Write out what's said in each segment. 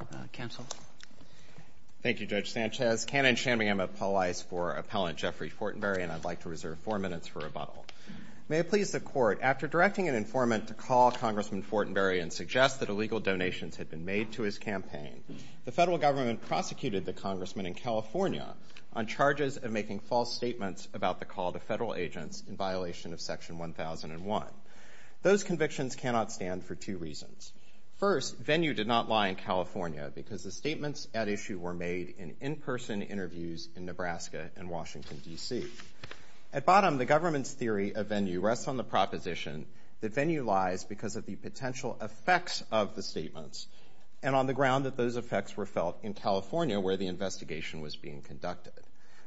and I'd like to reserve four minutes for rebuttal. May it please the court, after directing an informant to call Congressman Fortenberry and suggest that illegal donations had been made to his campaign, the federal government prosecuted the congressman in California on charges of making false statements about the call to federal agents in violation of section 1001 because the statements at issue were made in in-person interviews in Nebraska and Washington, D.C. At bottom, the government's theory of venue rests on the proposition that venue lies because of the potential effects of the statements and on the ground that those effects were felt in California where the investigation was being conducted.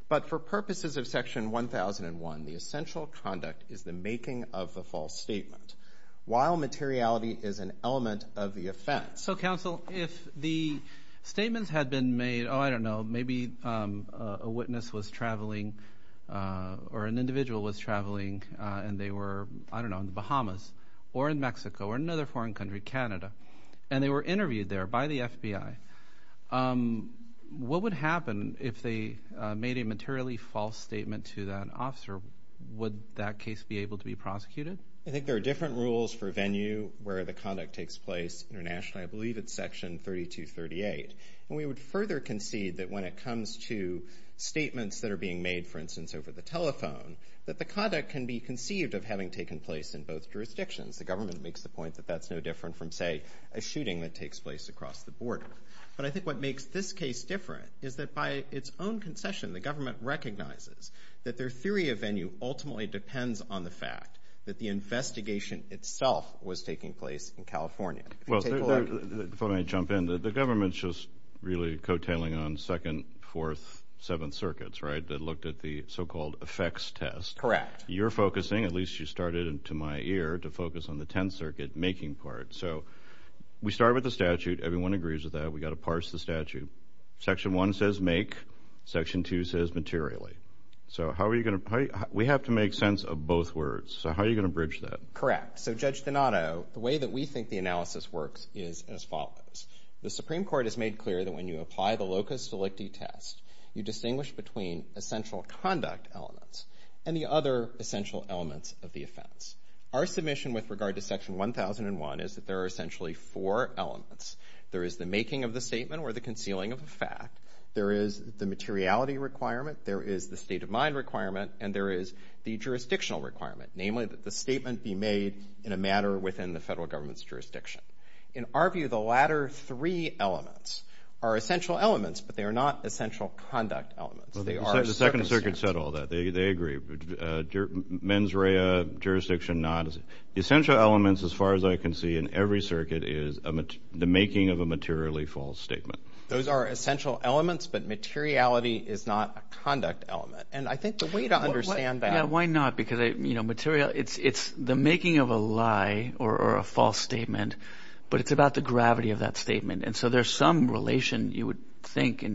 But for purposes of section 1001, the essential conduct is the making of the false statement. While the statements had been made, oh, I don't know, maybe a witness was traveling or an individual was traveling and they were, I don't know, in the Bahamas or in Mexico or another foreign country, Canada, and they were interviewed there by the FBI. What would happen if they made a materially false statement to that officer? Would that case be able to be prosecuted? I think there are different rules for venue where the conduct takes place internationally. I believe it's section 3238. And we would further concede that when it comes to statements that are being made, for instance, over the telephone, that the conduct can be conceived of having taken place in both jurisdictions. The government makes the point that that's no different from, say, a shooting that takes place across the border. But I think what makes this case different is that by its own concession, the government recognizes that their theory of venue ultimately depends on the fact that the take a look. Before I jump in, the government's just really coattailing on 2nd, 4th, 7th circuits, right, that looked at the so-called effects test. Correct. You're focusing, at least you started to my ear, to focus on the 10th circuit making part. So we start with the statute. Everyone agrees with that. We got to parse the statute. Section one says make. Section two says materially. So how are you going to, we have to make sense of both words. So how are you going to bridge that? Correct. So Judge Donato, the way that we think the analysis works is as follows. The Supreme Court has made clear that when you apply the locus delicti test, you distinguish between essential conduct elements and the other essential elements of the offense. Our submission with regard to section 1001 is that there are essentially four elements. There is the making of the statement or the concealing of the fact. There is the materiality requirement. There is the state of mind requirement. And there is the jurisdictional requirement, namely that the statement be made in a matter within the federal government's jurisdiction. In our view, the latter three elements are essential elements, but they are not essential conduct elements. They are circumstance. The Second Circuit said all that. They agree. Mens rea, jurisdiction not. Essential elements, as far as I can see in every circuit, is the making of a materially false statement. Those are essential elements, but materiality is not a conduct element. And I think the way to understand that. Yeah, why not? Because, you know, material, it's the making of a lie or a false statement, but it's about the gravity of that statement. And so there's some relation, you would think,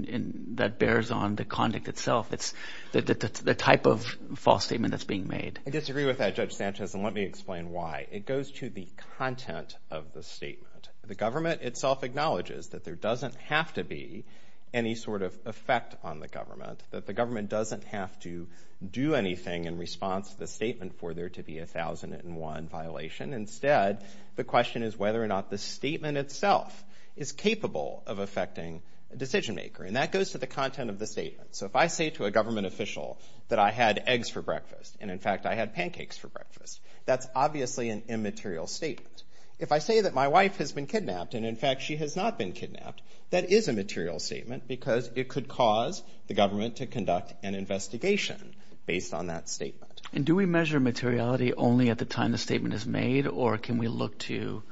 that bears on the conduct itself. It's the type of false statement that's being made. I disagree with that, Judge Sanchez, and let me explain why. It goes to the content of the statement. The government itself acknowledges that there doesn't have to be any sort of effect on the government, that the government doesn't have to do anything in response to the statement for there to be a 1001 violation. Instead, the question is whether or not the statement itself is capable of affecting a decision maker. And that goes to the content of the statement. So if I say to a government official that I had eggs for breakfast, and in fact I had pancakes for breakfast, that's obviously an immaterial statement. If I say that my wife has been kidnapped, and in fact she has not been kidnapped, that is a material statement because it could cause the government to conduct an investigation based on that statement. And do we measure materiality only at the time the statement is made, or can we look to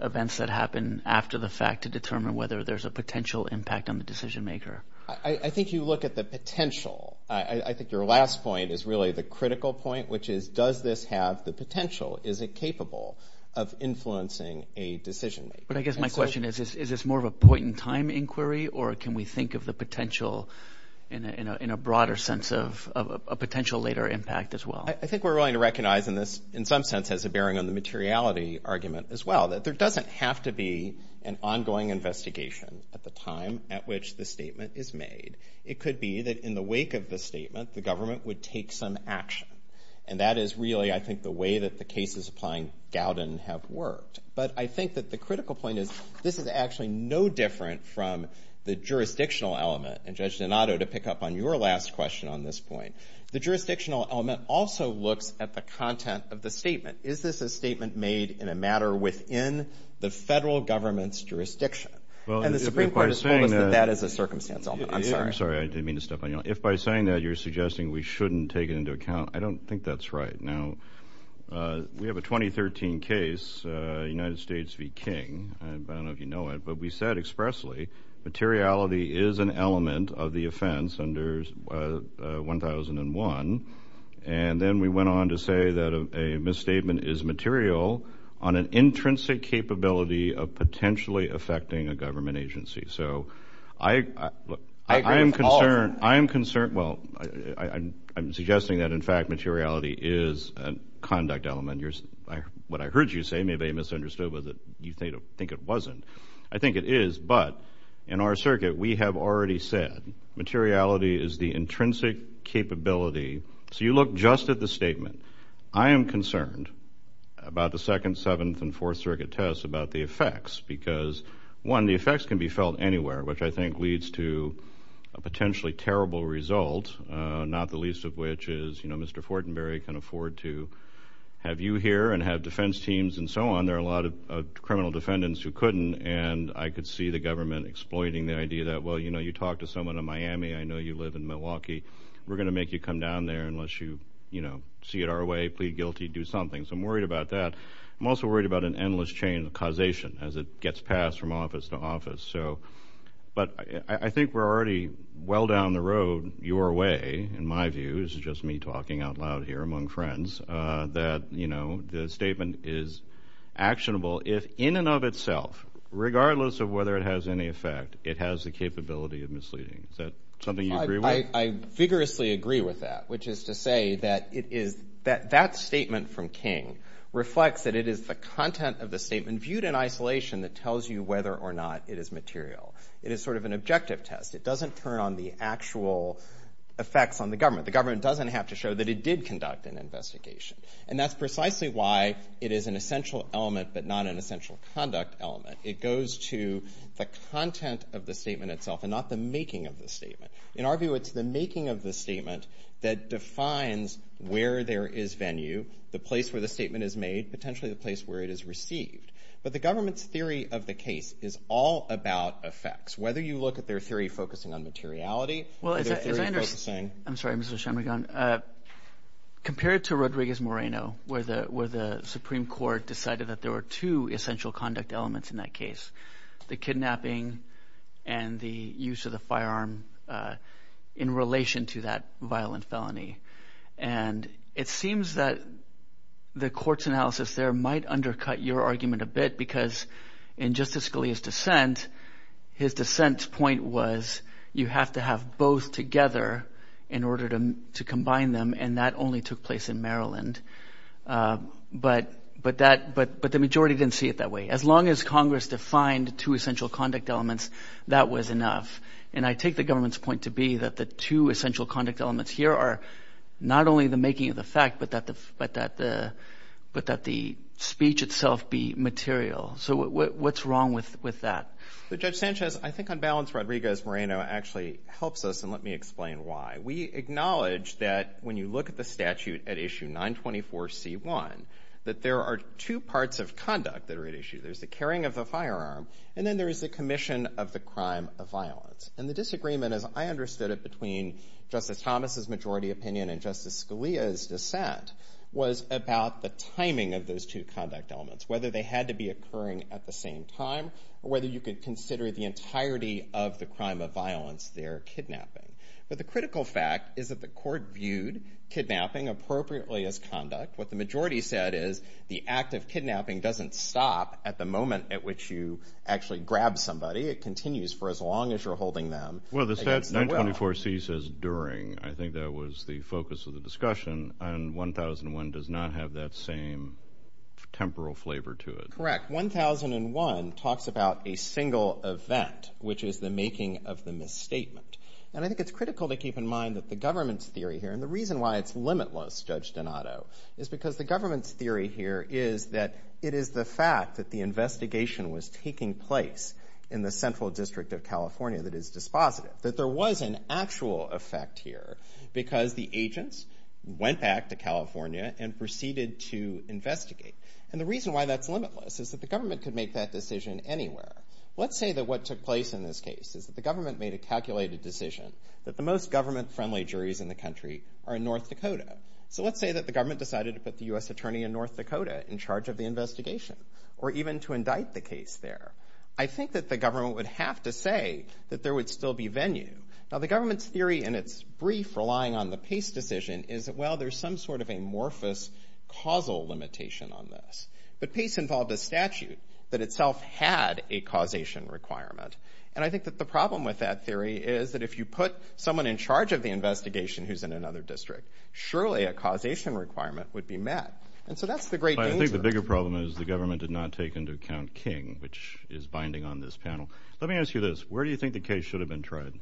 events that happen after the fact to determine whether there's a potential impact on the decision maker? I think you look at the potential. I think your last point is really the critical point, which is, does this have the potential? Is it capable of influencing a decision maker? But I guess my question is, is this more of a point in time inquiry, or can we think of the potential in a broader sense of a potential later impact as well? I think we're willing to recognize in some sense as a bearing on the materiality argument as well, that there doesn't have to be an ongoing investigation at the time at which the statement is made. It could be that in the wake of the statement, the government would take some action. And that is really, I think, the way that the cases applying Gowden have worked. But I think that the critical point is, this is actually no different from the jurisdictional element. And Judge Donato, to pick up on your last question on this point, the jurisdictional element also looks at the content of the statement. Is this a statement made in a matter within the federal government's jurisdiction? And the Supreme Court has told us that that is a circumstance element. I'm sorry. I didn't mean to step on you. If by saying that, you're suggesting we shouldn't take it into account, I don't think that's right. Now, we have a 2013 case, United States v. King. I don't know if you know it, but we said expressly, materiality is an element of the offense under 1001. And then we went on to say that a misstatement is material on an intrinsic capability of potentially affecting a government agency. So I am concerned. I am concerned. Well, I'm suggesting that in fact, materiality is a conduct element. What I heard you say may be misunderstood but you think it wasn't. I think it is. But in our circuit, we have already said materiality is the intrinsic capability. So you look just at the statement. I am concerned about the Second, Seventh, and Fourth Circuit tests about the effects because, one, the effects can be felt anywhere, which I think leads to a potentially terrible result, not the least of which is, you know, Mr. Fortenberry can afford to have you here and have defense teams and so on. There are a lot of criminal defendants who couldn't and I could see the government exploiting the idea that, well, you know, you talk to someone in Miami, I know you live in Milwaukee, we're going to make you come down there unless you, you know, see it our way, plead guilty, do something. So I'm worried about that. I'm also worried about an endless chain of causation as it gets passed from office to office. But I think we're already well down the road your way, in my view, this is just me talking out loud here among friends, that, you know, the statement is actionable if in and of itself, regardless of whether it has any effect, it has the capability of misleading. Is that something you agree with? I vigorously agree with that, which is to say that it is, that statement from King reflects that it is the content of the statement viewed in isolation that tells you whether or not it is material. It is sort of an objective test. It doesn't turn on the actual effects on the government. The government doesn't have to show that it did conduct an investigation. And that's precisely why it is an essential element but not an essential conduct element. It goes to the content of the statement itself and not the making of the statement. In our view, it's the making of the statement that defines where there is venue, the place where the statement is made, potentially the place where it is received. But the government's understanding of the case is all about effects, whether you look at their theory focusing on materiality. Well, as I understand, I'm sorry, Mr. Shanmugam, compared to Rodriguez-Moreno, where the Supreme Court decided that there were two essential conduct elements in that case, the kidnapping and the use of the firearm in relation to that violent felony. And it seems that the Justice Scalia's dissent, his dissent's point was you have to have both together in order to combine them. And that only took place in Maryland. But the majority didn't see it that way. As long as Congress defined two essential conduct elements, that was enough. And I take the government's point to be that the two essential conduct elements here are not only the making of the fact but that the speech itself be material. So what's wrong with that? Well, Judge Sanchez, I think on balance Rodriguez-Moreno actually helps us, and let me explain why. We acknowledge that when you look at the statute at issue 924C1, that there are two parts of conduct that are at issue. There's the carrying of the firearm, and then there is the commission of the crime of violence. And the disagreement, as I understood it, between Justice Thomas's majority opinion and Justice Scalia's dissent was about the timing of those two conduct elements, whether they had to be occurring at the same time or whether you could consider the entirety of the crime of violence their kidnapping. But the critical fact is that the court viewed kidnapping appropriately as conduct. What the majority said is the act of kidnapping doesn't stop at the moment at which you actually grab somebody. It continues for as long as you're holding them against their will. Well, the statute 924C says during. I think that was the focus of the discussion. And there's a temporal flavor to it. Correct. 1001 talks about a single event, which is the making of the misstatement. And I think it's critical to keep in mind that the government's theory here, and the reason why it's limitless, Judge Donato, is because the government's theory here is that it is the fact that the investigation was taking place in the Central District of California that is dispositive, that there was an actual effect here because the agents went back to investigate. And the reason why that's limitless is that the government could make that decision anywhere. Let's say that what took place in this case is that the government made a calculated decision that the most government-friendly juries in the country are in North Dakota. So let's say that the government decided to put the U.S. attorney in North Dakota in charge of the investigation or even to indict the case there. I think that the government would have to say that there would still be venue. Now, the government's theory in its brief relying on the Pace decision is that, well, there's some sort of amorphous causal limitation on this. But Pace involved a statute that itself had a causation requirement. And I think that the problem with that theory is that if you put someone in charge of the investigation who's in another district, surely a causation requirement would be met. And so that's the great danger. But I think the bigger problem is the government did not take into account King, which is binding on this panel. Let me ask you this. Where do you think the case should have been tried?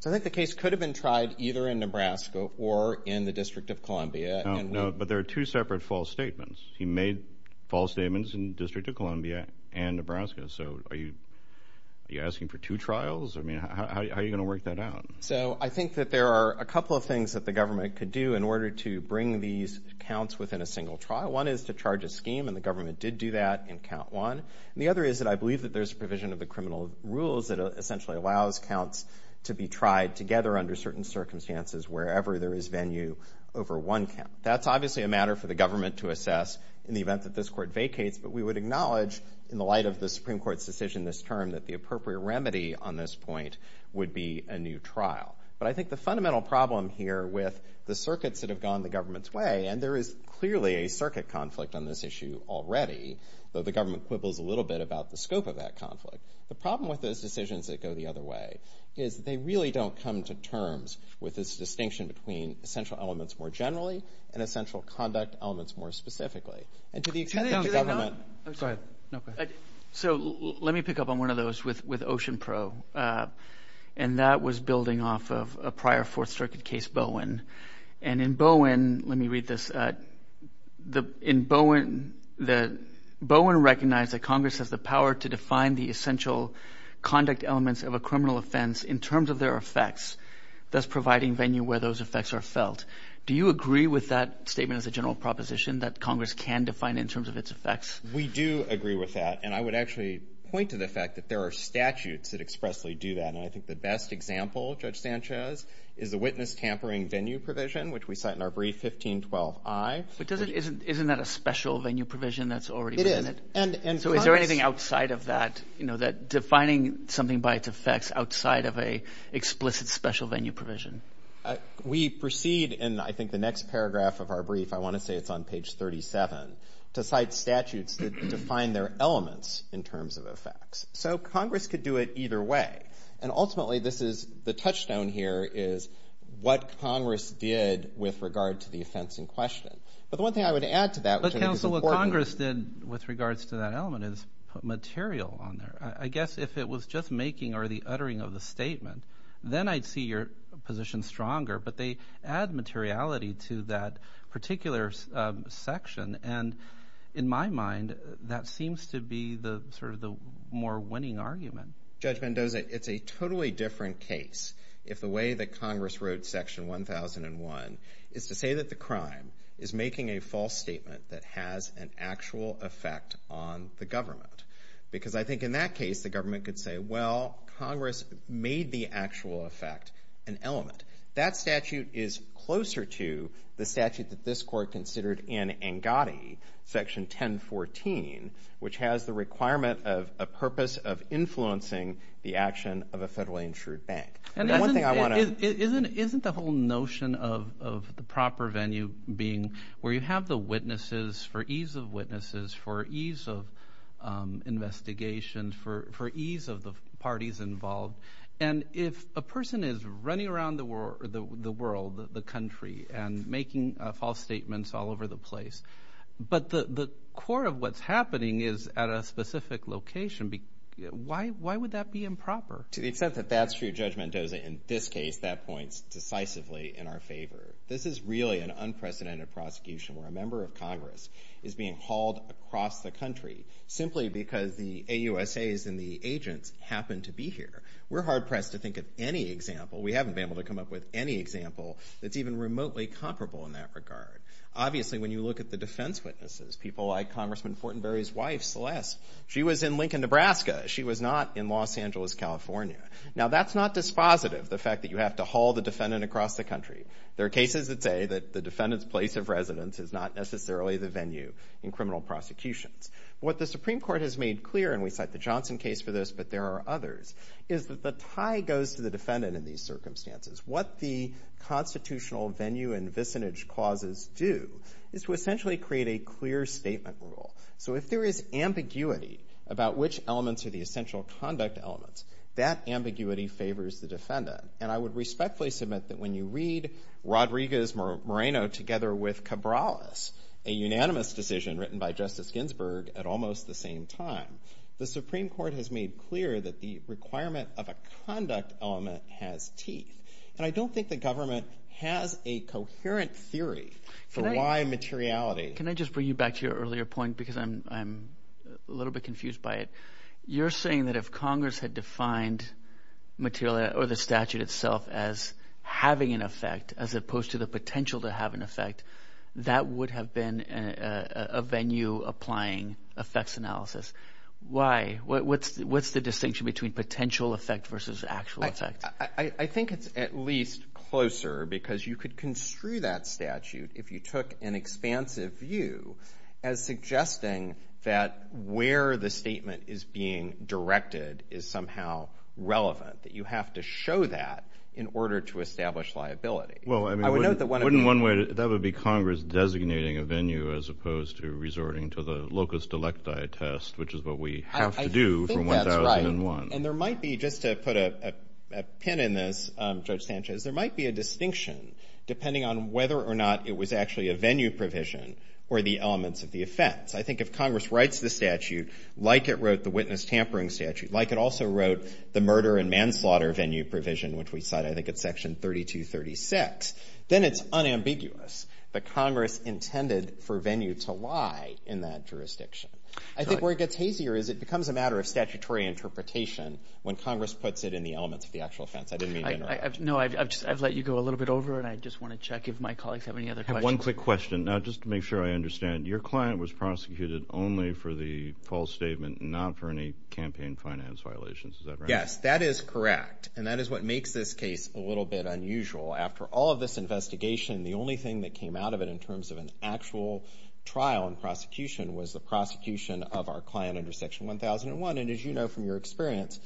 So I think the case could have been tried either in Nebraska or in the District of Columbia. No, but there are two separate false statements. He made false statements in the District of Columbia and Nebraska. So are you asking for two trials? I mean, how are you going to work that out? So I think that there are a couple of things that the government could do in order to bring these counts within a single trial. One is to charge a scheme, and the government did do that in count one. And the other is that I believe that there's provision of the criminal rules that essentially allows counts to be tried together under certain circumstances wherever there is venue over one count. That's obviously a matter for the government to assess in the event that this court vacates, but we would acknowledge in the light of the Supreme Court's decision this term that the appropriate remedy on this point would be a new trial. But I think the fundamental problem here with the circuits that have gone the government's way, and there is clearly a circuit conflict on this issue already, though the government quibbles a little bit about the scope of that conflict. The problem with those decisions that go the other way is that they really don't come to terms with this distinction between essential elements more generally and essential conduct elements more specifically. And to the extent that the government... So let me pick up on one of those with OceanPro, and that was building off of a prior Fourth Amendment, that Congress has the power to define the essential conduct elements of a criminal offense in terms of their effects, thus providing venue where those effects are felt. Do you agree with that statement as a general proposition that Congress can define in terms of its effects? We do agree with that, and I would actually point to the fact that there are statutes that expressly do that, and I think the best example, Judge Sanchez, is the witness tampering venue provision, which we cite in our brief 1512I. But isn't that a special venue provision that's already been... And Congress... So is there anything outside of that, you know, that defining something by its effects outside of a explicit special venue provision? We proceed, and I think the next paragraph of our brief, I want to say it's on page 37, to cite statutes that define their elements in terms of effects. So Congress could do it either way. And ultimately, this is... The touchstone here is what Congress did with regard to the offense in question. But the one thing I would add to that... Well, so what Congress did with regards to that element is put material on there. I guess if it was just making or the uttering of the statement, then I'd see your position stronger, but they add materiality to that particular section, and in my mind, that seems to be the sort of the more winning argument. Judge Mendoza, it's a totally different case if the way that Congress wrote section 1001 is to say that the crime is making a false statement that has an actual effect on the government. Because I think in that case, the government could say, well, Congress made the actual effect, an element. That statute is closer to the statute that this court considered in ANGADI, section 1014, which has the requirement of a purpose of influencing the action of a federally insured bank. And isn't the whole notion of the proper venue being where you have the witnesses for ease of witnesses, for ease of investigation, for ease of the parties involved. And if a person is running around the world, the country, and making false statements all over the place, but the core of what's happening is at a specific location, why would that be improper? To the extent that that's true, Judge Mendoza, in this case, that points decisively in our favor. This is really an unprecedented prosecution where a member of Congress is being hauled across the country simply because the AUSAs and the agents happen to be here. We're hard pressed to think of any example. We haven't been able to come up with any example that's even remotely comparable in that regard. Obviously, when you look at the defense witnesses, people like Congressman Fortenberry's wife, Ms. Celeste, she was in Lincoln, Nebraska. She was not in Los Angeles, California. Now, that's not dispositive, the fact that you have to haul the defendant across the country. There are cases that say that the defendant's place of residence is not necessarily the venue in criminal prosecutions. What the Supreme Court has made clear, and we cite the Johnson case for this, but there are others, is that the tie goes to the defendant in these circumstances. What the constitutional venue and vicinage clauses do is to essentially create a clear statement rule. So if there is ambiguity about which elements are the essential conduct elements, that ambiguity favors the defendant. And I would respectfully submit that when you read Rodriguez-Moreno together with Cabrales, a unanimous decision written by Justice Ginsburg at almost the same time, the Supreme Court has made clear that the requirement of a conduct element has teeth. And I don't think the government has a coherent theory for why materiality Can I just bring you back to your earlier point, because I'm a little bit confused by it. You're saying that if Congress had defined materiality or the statute itself as having an effect as opposed to the potential to have an effect, that would have been a venue applying effects analysis. Why? What's the distinction between potential effect versus actual effect? I think it's at least closer, because you could construe that statute if you took an expansive view as suggesting that where the statement is being directed is somehow relevant, that you have to show that in order to establish liability. Well, I mean, wouldn't one way, that would be Congress designating a venue as opposed to resorting to the locus delecti test, which is what we have to do from 1001. And there might be, just to put a pin in this, Judge Sanchez, there might be a distinction on whether or not it was actually a venue provision or the elements of the offense. I think if Congress writes the statute like it wrote the witness tampering statute, like it also wrote the murder and manslaughter venue provision, which we cite, I think it's section 3236, then it's unambiguous that Congress intended for venue to lie in that jurisdiction. I think where it gets hazier is it becomes a matter of statutory interpretation when Congress puts it in the elements of the actual offense. I didn't mean to interrupt. No, I've let you go a little bit over and I just want to check if my colleagues have any other questions. I have one quick question. Now, just to make sure I understand, your client was prosecuted only for the false statement and not for any campaign finance violations, is that right? Yes, that is correct. And that is what makes this case a little bit unusual. After all of this investigation, the only thing that came out of it in terms of an actual trial and prosecution was the prosecution of our client under section 1001. And as you know from your experience,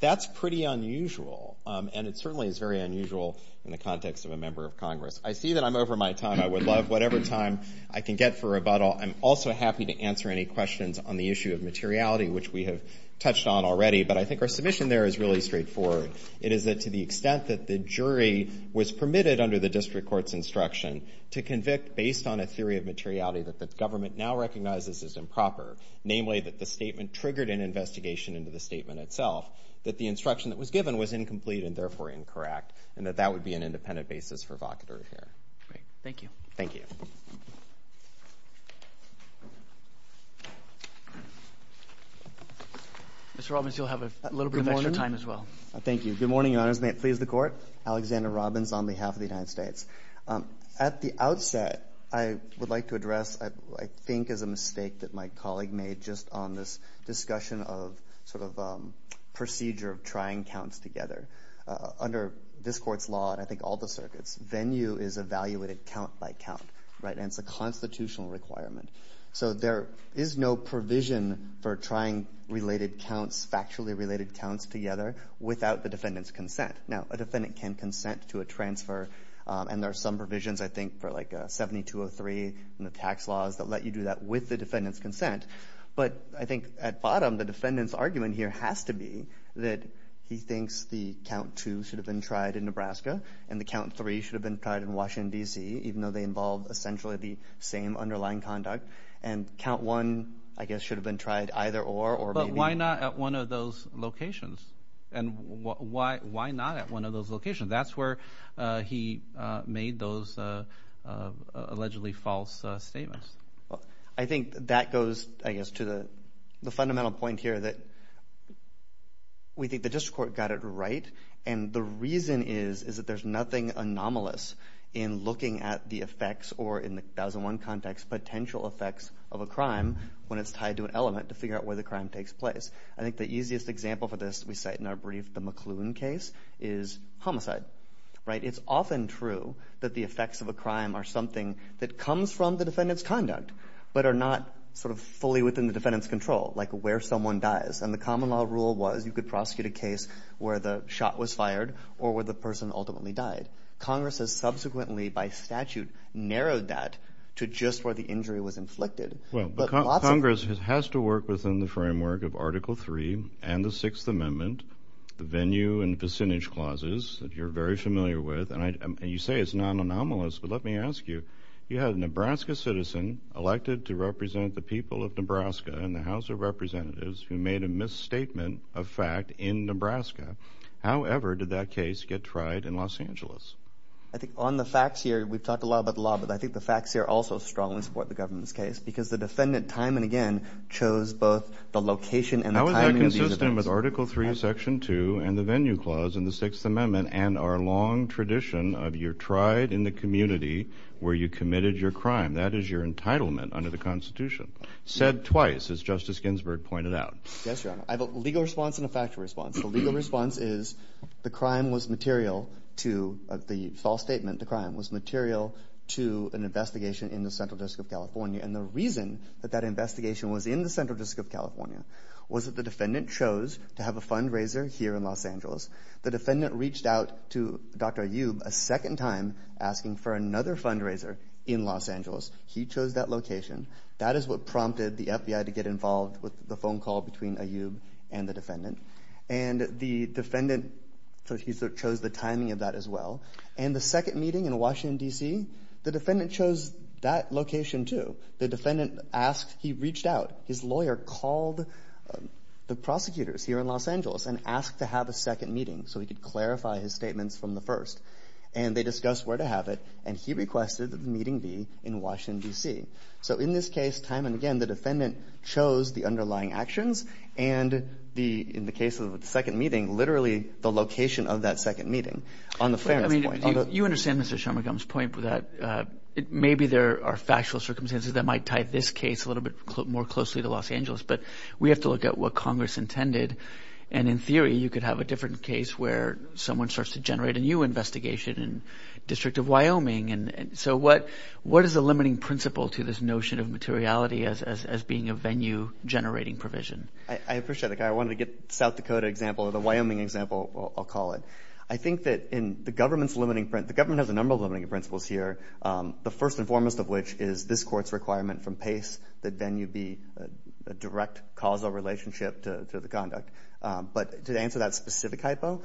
that's pretty unusual. And it certainly is very unusual in the context of a member of Congress. I see that I'm over my time. I would love whatever time I can get for rebuttal. I'm also happy to answer any questions on the issue of materiality, which we have touched on already. But I think our submission there is really straightforward. It is that to the extent that the jury was permitted under the district court's instruction to convict based on a theory of materiality that the government now recognizes as improper, namely that the statement triggered an investigation into the statement itself, that the instruction that was given was incomplete and therefore incorrect, and that that would be an independent basis for evocatory here. Thank you. Thank you. Mr. Robbins, you'll have a little bit of extra time as well. Thank you. Good morning, Your Honors. May it please the Court. Alexander Robbins on behalf of the United States. At the outset, I would like to address what I think is a mistake that my colleague made just on this discussion of sort of procedure of trying counts together. Under this Court's law, and I think all the circuits, venue is evaluated count by count, right? And it's a constitutional requirement. So there is no provision for trying related counts, factually related counts together without the defendant's consent. Now, a defendant can consent to a transfer, and there are some provisions, I think, for like 7203 and the tax laws that let you do that with the defendant's consent. But I think at bottom, the defendant's argument here has to be that he thinks the count two should have been tried in Nebraska, and the count three should have been tried in Washington, D.C., even though they involve essentially the same underlying conduct. And count one, I guess, should have been tried either or. But why not at one of those locations? And why not at one of those locations? That's where he made those allegedly false statements. I think that goes, I guess, to the fundamental point here that we think the district court got it right, and the reason is, is that there's nothing anomalous in looking at the effects or in the 1001 context, potential effects of a crime when it's tied to an element to figure out where the crime takes place. I think the easiest example for this, we cite in our brief, the McLuhan case, is homicide. Right? It's often true that the effects of a crime are something that comes from the defendant's conduct, but are not sort of fully within the defendant's control, like where someone dies. And the common law rule was you could prosecute a case where the shot was fired or where the person ultimately died. Congress has subsequently, by statute, narrowed that to just where the injury was inflicted. Well, but Congress has to work within the framework of Article III and the Sixth Amendment, the venue and vicinage clauses that you're very familiar with. And you say it's not anomalous, but let me ask you, you had a Nebraska citizen elected to represent the people of Nebraska in the House of Representatives who made a misstatement of fact in Nebraska. However, did that case get tried in Los Angeles? I think on the facts here, we've talked a lot about the law, but I think the facts here also strongly support the government's case, because the defendant, time and again, chose both the location and the timing of these events. How is that consistent with Article III, Section 2, and the venue clause in the Sixth Amendment and our long tradition of you're tried in the community where you committed your crime? That is your entitlement under the Constitution. Said twice, as Justice Ginsburg pointed out. Yes, Your Honor. I have a legal response and a factual response. The legal response is the crime was material to, the false statement, the crime was material to an investigation in the Central District of California. And the reason that that investigation was in the Central District of California was that the defendant chose to have a fundraiser here in Los Angeles. The defendant reached out to Dr. Ayoub a second time asking for another fundraiser in Los Angeles. He chose that location. That is what prompted the FBI to get involved with the phone call between Ayoub and the defendant. And the defendant chose the timing of that as well. And the second meeting in Washington, D.C., the defendant chose that location too. The defendant asked, he reached out, his lawyer called the prosecutors here in Los Angeles and asked to have a second meeting so he could clarify his statements from the first. And they discussed where to have it and he requested that the meeting be in Washington, D.C. So in this case, time and again, the defendant chose the underlying actions and the, in the case of the second meeting, literally the location of that second meeting. On the fairness point. I mean, you understand Mr. Shermergum's point that maybe there are factual circumstances that might tie this case a little bit more closely to Los Angeles. But we have to look at what Congress intended. And in theory, you could have a different case where someone starts to generate a new investigation in the District of Wyoming. So what is the limiting principle to this notion of materiality as being a venue generating provision? I appreciate that. I wanted to get the South Dakota example or the Wyoming example, I'll call it. I think that in the government's limiting, the government has a number of limiting principles here. The first and foremost of which is this court's requirement from PACE that venue be a direct causal relationship to the conduct. But to answer that specific hypo,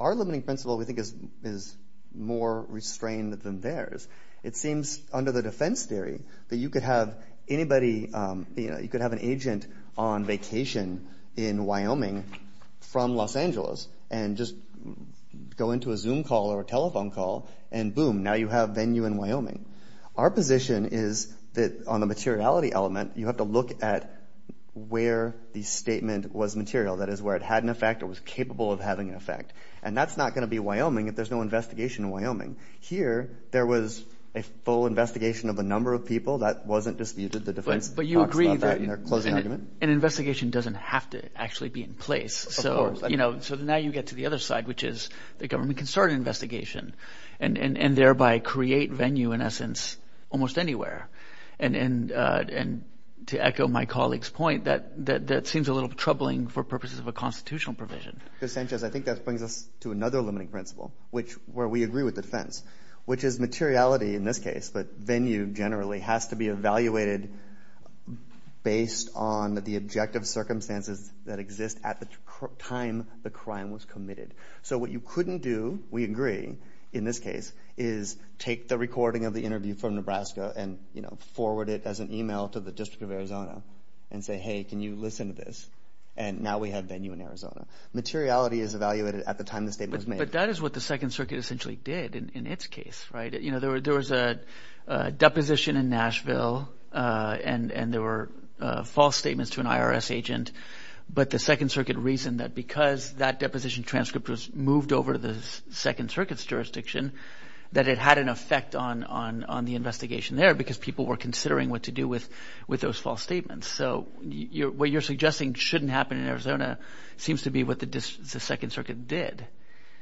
our limiting principle we think is more restrained than theirs. It seems under the defense theory that you could have anybody, you know, you could have an agent on vacation in Wyoming from Los Angeles and just go into a Zoom call or a telephone call and boom, now you have venue in Wyoming. Our position is that on the materiality element, you have to look at where the statement was material. That is, where it had an effect or was capable of having an effect. And that's not going to be Wyoming if there's no investigation in Wyoming. Here there was a full investigation of a number of people. That wasn't disputed. But you agree that an investigation doesn't have to actually be in place. So, you know, so now you get to the other side, which is the government can start an investigation and thereby create venue in essence almost anywhere. And to echo my colleague's point, that seems a little troubling for purposes of a constitutional provision. Mr. Sanchez, I think that brings us to another limiting principle, which where we agree with this case. But venue generally has to be evaluated based on the objective circumstances that exist at the time the crime was committed. So what you couldn't do, we agree in this case, is take the recording of the interview from Nebraska and, you know, forward it as an email to the District of Arizona and say, hey, can you listen to this? And now we have venue in Arizona. Materiality is evaluated at the time the statement was made. But that is what the Second Circuit essentially did in its case, right? You know, there was a deposition in Nashville and there were false statements to an IRS agent. But the Second Circuit reasoned that because that deposition transcript was moved over to the Second Circuit's jurisdiction, that it had an effect on the investigation there because people were considering what to do with those false statements. So what you're suggesting shouldn't happen in Arizona seems to be what the Second Circuit did.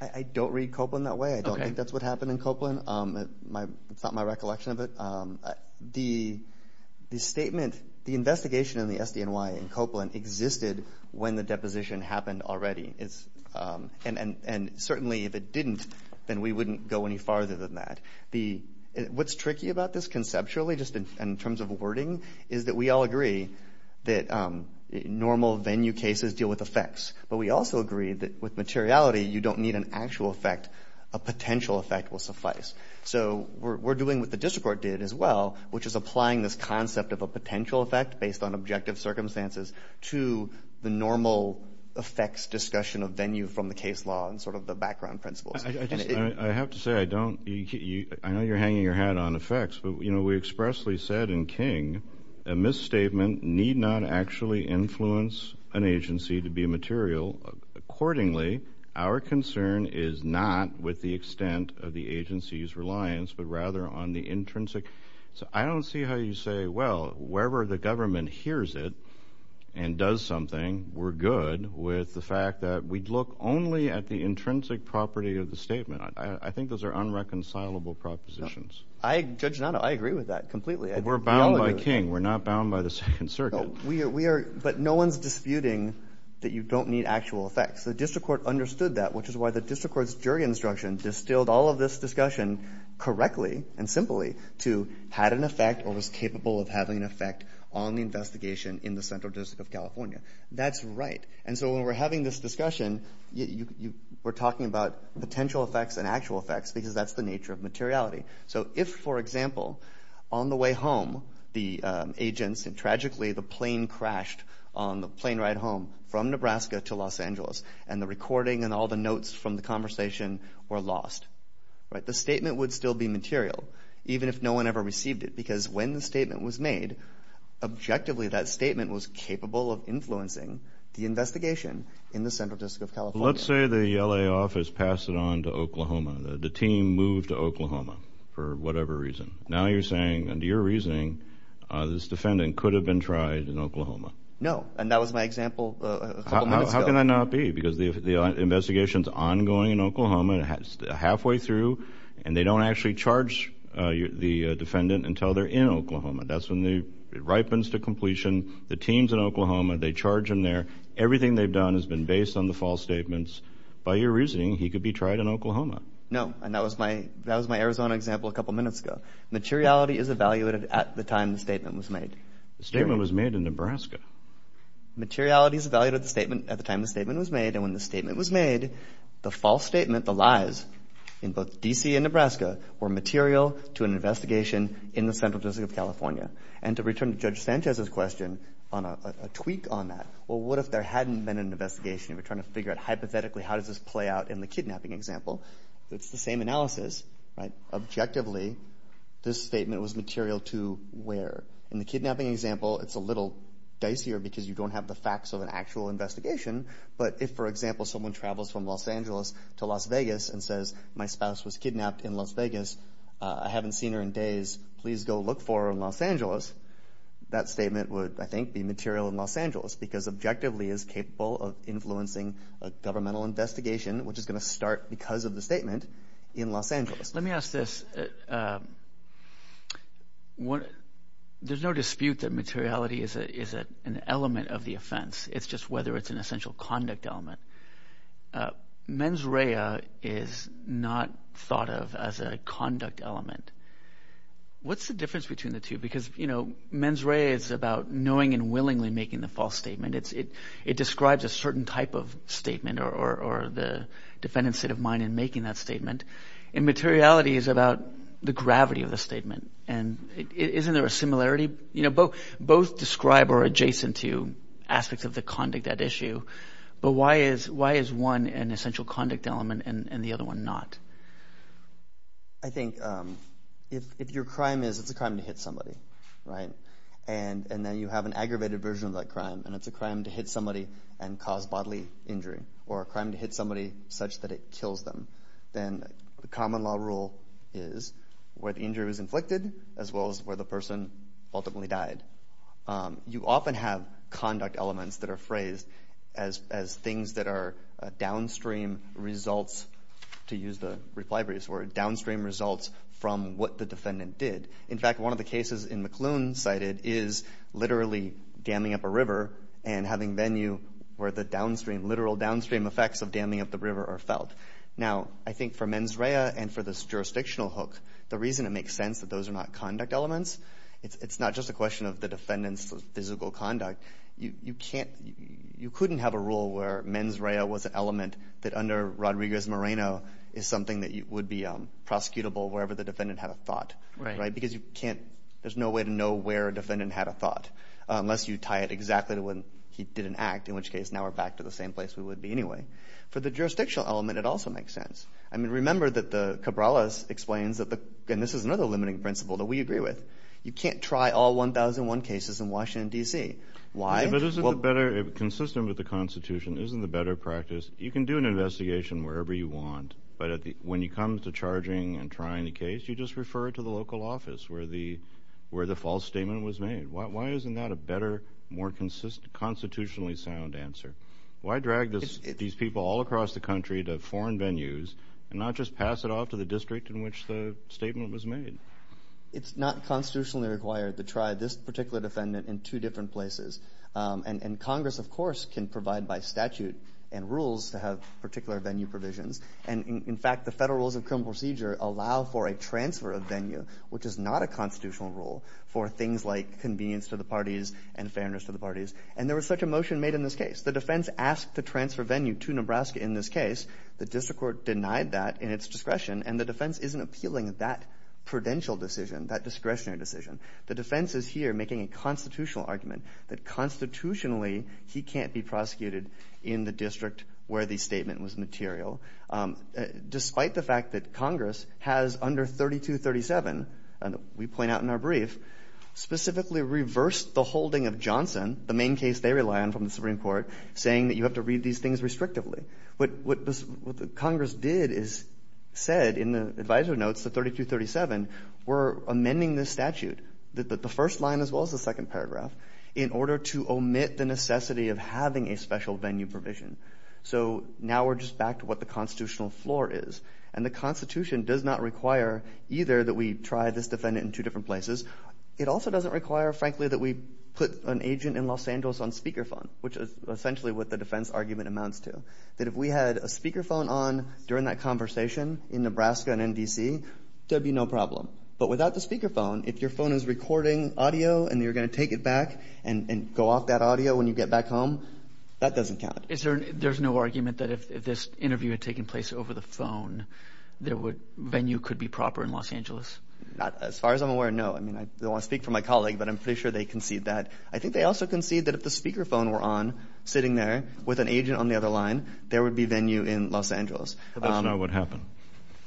I don't read Copeland that way. I don't think that's what happened in Copeland. It's not my recollection of it. The statement, the investigation in the SDNY in Copeland existed when the deposition happened already. And certainly if it didn't, then we wouldn't go any farther than that. What's tricky about this conceptually, just in terms of wording, is that we all agree that normal venue cases deal with effects. But we also agree that with materiality, you don't need an actual effect. A potential effect will suffice. So we're doing what the district court did as well, which is applying this concept of a potential effect based on objective circumstances to the normal effects discussion of venue from the case law and sort of the background principles. I have to say, I know you're hanging your hat on effects, but we expressly said in King that a misstatement need not actually influence an agency to be material. Accordingly, our concern is not with the extent of the agency's reliance, but rather on the intrinsic. So I don't see how you say, well, wherever the government hears it and does something, we're good with the fact that we'd look only at the intrinsic property of the statement. I think those are unreconcilable propositions. I judge not. I agree with that completely. We're bound by King. We're not bound by the Second Circuit. But no one's disputing that you don't need actual effects. The district court understood that, which is why the district court's jury instruction distilled all of this discussion correctly and simply to had an effect or was capable of having an effect on the investigation in the Central District of California. That's right. And so when we're having this discussion, we're talking about potential effects and actual effects because that's the nature of materiality. So if, for example, on the way home, the agents and tragically the plane crashed on the plane ride home from Nebraska to Los Angeles and the recording and all the notes from the conversation were lost, right, the statement would still be material even if no one ever received it because when the statement was made, objectively that statement was capable of influencing the investigation in the Central District of California. Let's say the L.A. office passed it on to Oklahoma. The team moved to Oklahoma for whatever reason. Now you're saying, under your reasoning, this defendant could have been tried in Oklahoma. No. And that was my example a couple of minutes ago. How can that not be? Because the investigation's ongoing in Oklahoma and it's halfway through and they don't actually charge the defendant until they're in Oklahoma. That's when it ripens to completion. The team's in Oklahoma. They charge him there. Everything they've done has been based on the false statements. By your reasoning, he could be tried in Oklahoma. No. And that was my Arizona example a couple of minutes ago. Materiality is evaluated at the time the statement was made. The statement was made in Nebraska. Materiality is evaluated at the time the statement was made and when the statement was made, the false statement, the lies, in both D.C. and Nebraska were material to an investigation in the Central District of California. And to return to Judge Sanchez's question on a tweak on that, well, what if there hadn't been an investigation and we're trying to figure out hypothetically how does this play out in the kidnapping example? It's the same analysis, right? Objectively, this statement was material to where? In the kidnapping example, it's a little dicier because you don't have the facts of an actual investigation. But if, for example, someone travels from Los Angeles to Las Vegas and says, my spouse was kidnapped in Las Vegas. I haven't seen her in days. Please go look for her in Los Angeles. That statement would, I think, be material in Los Angeles because objectively it's capable of influencing a governmental investigation which is going to start because of the statement in Los Angeles. Let me ask this. There's no dispute that materiality is an element of the offense. It's just whether it's an essential conduct element. Mens rea is not thought of as a conduct element. What's the difference between the two? Because, you know, mens rea is about knowing and willingly making the false statement. It describes a certain type of statement or the defendant's state of mind in making that statement. Immateriality is about the gravity of the statement. And isn't there a similarity? Both describe or are adjacent to aspects of the conduct at issue. But why is one an essential conduct element and the other one not? I think if your crime is it's a crime to hit somebody, right, and then you have an aggravated version of that crime and it's a crime to hit somebody and cause bodily injury or a crime to hit somebody such that it kills them, then the common law rule is where the injury was inflicted as well as where the person ultimately died. You often have conduct elements that are phrased as things that are downstream results, to use the reply phrase for it, downstream results from what the defendant did. In fact, one of the cases in McLoone cited is literally damming up a river and having venue where the downstream, literal downstream effects of damming up the river are felt. Now, I think for mens rea and for this jurisdictional hook, the reason it makes sense that those are not conduct elements, it's not just a question of the defendant's physical conduct. You can't, you couldn't have a rule where mens rea was an element that under Rodriguez-Moreno is something that would be prosecutable wherever the defendant had a thought, right, because you can't, there's no way to know where a defendant had a thought unless you tie it exactly to when he did an act, in which case now we're back to the same place we would be anyway. For the jurisdictional element, it also makes sense. I mean, remember that the Cabrales explains that the, and this is another limiting principle that we agree with, you can't try all 1001 cases in Washington, D.C. Why? But isn't the better, consistent with the Constitution, isn't the better practice, you can do an investigation wherever you want, but at the, when it comes to charging and trying the case, you just refer it to the local office where the, where the false statement was made. Why isn't that a better, more consistent, constitutionally sound answer? Why drag this, these people all across the country to foreign venues and not just pass it off to the district in which the statement was made? It's not constitutionally required to try this particular defendant in two different places. And Congress, of course, can provide by statute and rules to have particular venue provisions. And in fact, the federal rules of criminal procedure allow for a transfer of venue, which is not a constitutional rule, for things like convenience to the parties and fairness to the parties. And there was such a motion made in this case. The defense asked to transfer venue to Nebraska in this case. The district court denied that in its discretion. And the defense isn't appealing that prudential decision, that discretionary decision. The defense is here making a constitutional argument that constitutionally he can't be prosecuted in the district where the statement was material, despite the fact that Congress has under 3237, we point out in our brief, specifically reversed the holding of Johnson, the main case they rely on from the Supreme Court, saying that you have to read these things restrictively. What Congress did is said in the advisory notes, the 3237, we're amending this statute, the first line as well as the second paragraph, in order to omit the necessity of having a special venue provision. So now we're just back to what the constitutional floor is. And the Constitution does not require either that we try this defendant in two different places. It also doesn't require, frankly, that we put an agent in Los Angeles on speaker phone, which is essentially what the defense argument amounts to, that if we had a speaker phone on during that conversation in Nebraska and in D.C., there'd be no problem. But without the speaker phone, if your phone is recording audio and you're going to take it back and go off that audio when you get back home, that doesn't count. There's no argument that if this interview had taken place over the phone, the venue could be proper in Los Angeles? As far as I'm aware, no. I mean, I don't want to speak for my colleague, but I'm pretty sure they concede that. I think they also concede that if the speaker phone were on, sitting there with an agent on the other line, there would be venue in Los Angeles. But that's not what happened.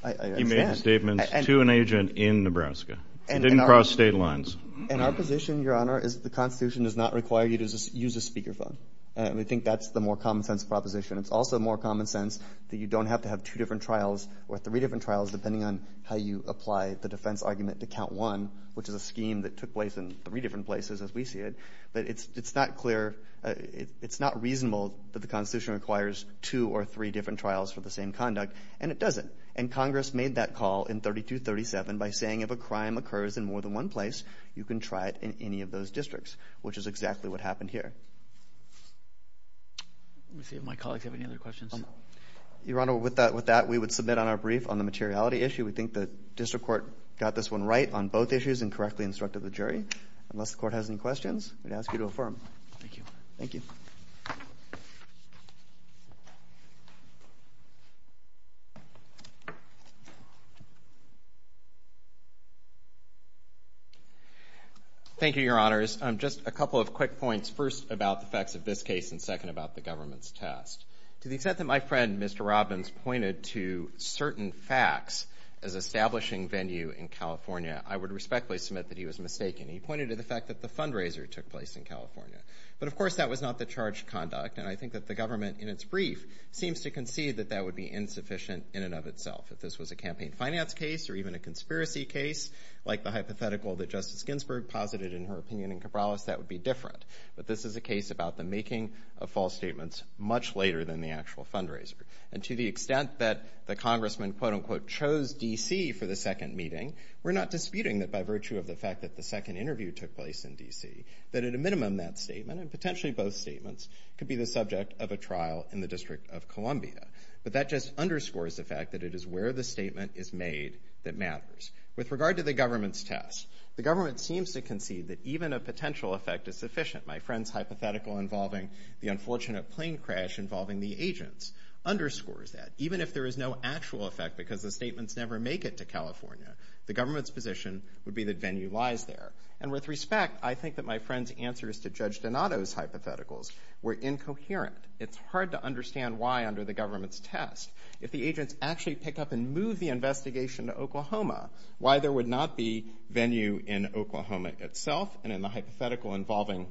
I understand. He made a statement to an agent in Nebraska. He didn't cross state lines. And our position, Your Honor, is that the Constitution does not require you to use a speaker phone. And we think that's the more common sense proposition. It's also more common sense that you don't have to have two different trials or three different trials, depending on how you apply the defense argument to count one, which is a scheme that took place in three different places, as we see it. But it's not clear, it's not reasonable that the Constitution requires two or three different trials for the same conduct. And it doesn't. And Congress made that call in 3237 by saying if a crime occurs in more than one place, you can try it in any of those districts, which is exactly what happened here. Let me see if my colleagues have any other questions. Your Honor, with that, we would submit on our brief on the materiality issue. We think the district court got this one right on both issues and correctly instructed the jury. Unless the court has any questions, we'd ask you to affirm. Thank you. Thank you. Thank you, Your Honors. Just a couple of quick points, first about the facts of this case and second about the government's test. To the extent that my friend, Mr. Robbins, pointed to certain facts as establishing venue in California, I would respectfully submit that he was mistaken. He pointed to the fact that the fundraiser took place in California. But of course, that was not the charged conduct. And I think that the government, in its brief, seems to concede that that would be insufficient in and of itself. If this was a campaign finance case or even a conspiracy case, like the hypothetical that Justice Ginsburg posited in her opinion in Cabrales, that would be different. But this is a case about the making of false statements much later than the actual fundraiser. And to the extent that the congressman, quote unquote, chose D.C. for the second meeting, we're not disputing that by virtue of the fact that the second interview took place in D.C., that at a minimum that statement, and potentially both statements, could be the subject of a trial in the District of Columbia. But that just underscores the fact that it is where the statement is made that matters. With regard to the government's test, the government seems to concede that even a potential effect is sufficient. My friend's hypothetical involving the unfortunate plane crash involving the agents underscores that. Even if there is no actual effect because the statements never make it to California, the government's position would be that Venue lies there. And with respect, I think that my friend's answers to Judge Donato's hypotheticals were incoherent. It's hard to understand why under the government's test. If the agents actually pick up and move the investigation to Oklahoma, why there would not be Venue in Oklahoma itself, and in the hypothetical involving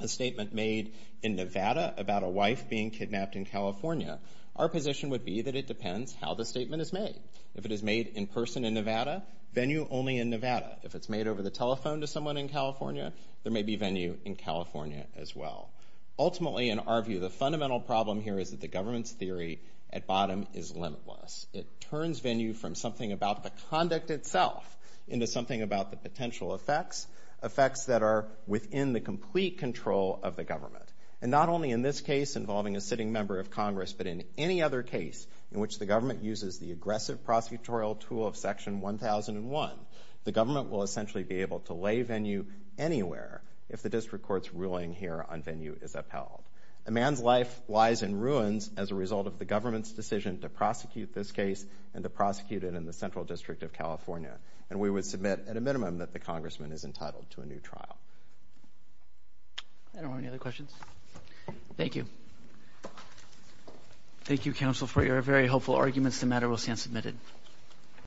a statement made in Nevada about a wife being kidnapped in California, our position would be that it depends how the statement is made. If it is made in person in Nevada, Venue only in Nevada. If it's made over the telephone to someone in California, there may be Venue in California as well. Ultimately, in our view, the fundamental problem here is that the government's theory at bottom is limitless. It turns Venue from something about the conduct itself into something about the potential effects, effects that are within the complete control of the government. And not only in this case involving a sitting member of Congress, but in any other case in which the government uses the aggressive prosecutorial tool of Section 1001, the government will essentially be able to lay Venue anywhere if the district court's ruling here on Venue is upheld. A man's life lies in ruins as a result of the government's decision to prosecute this case and to prosecute it in the Central District of California. And we would submit, at a minimum, that the congressman is entitled to a new trial. I don't have any other questions. Thank you. Thank you, counsel, for your very hopeful arguments. The matter will stand submitted.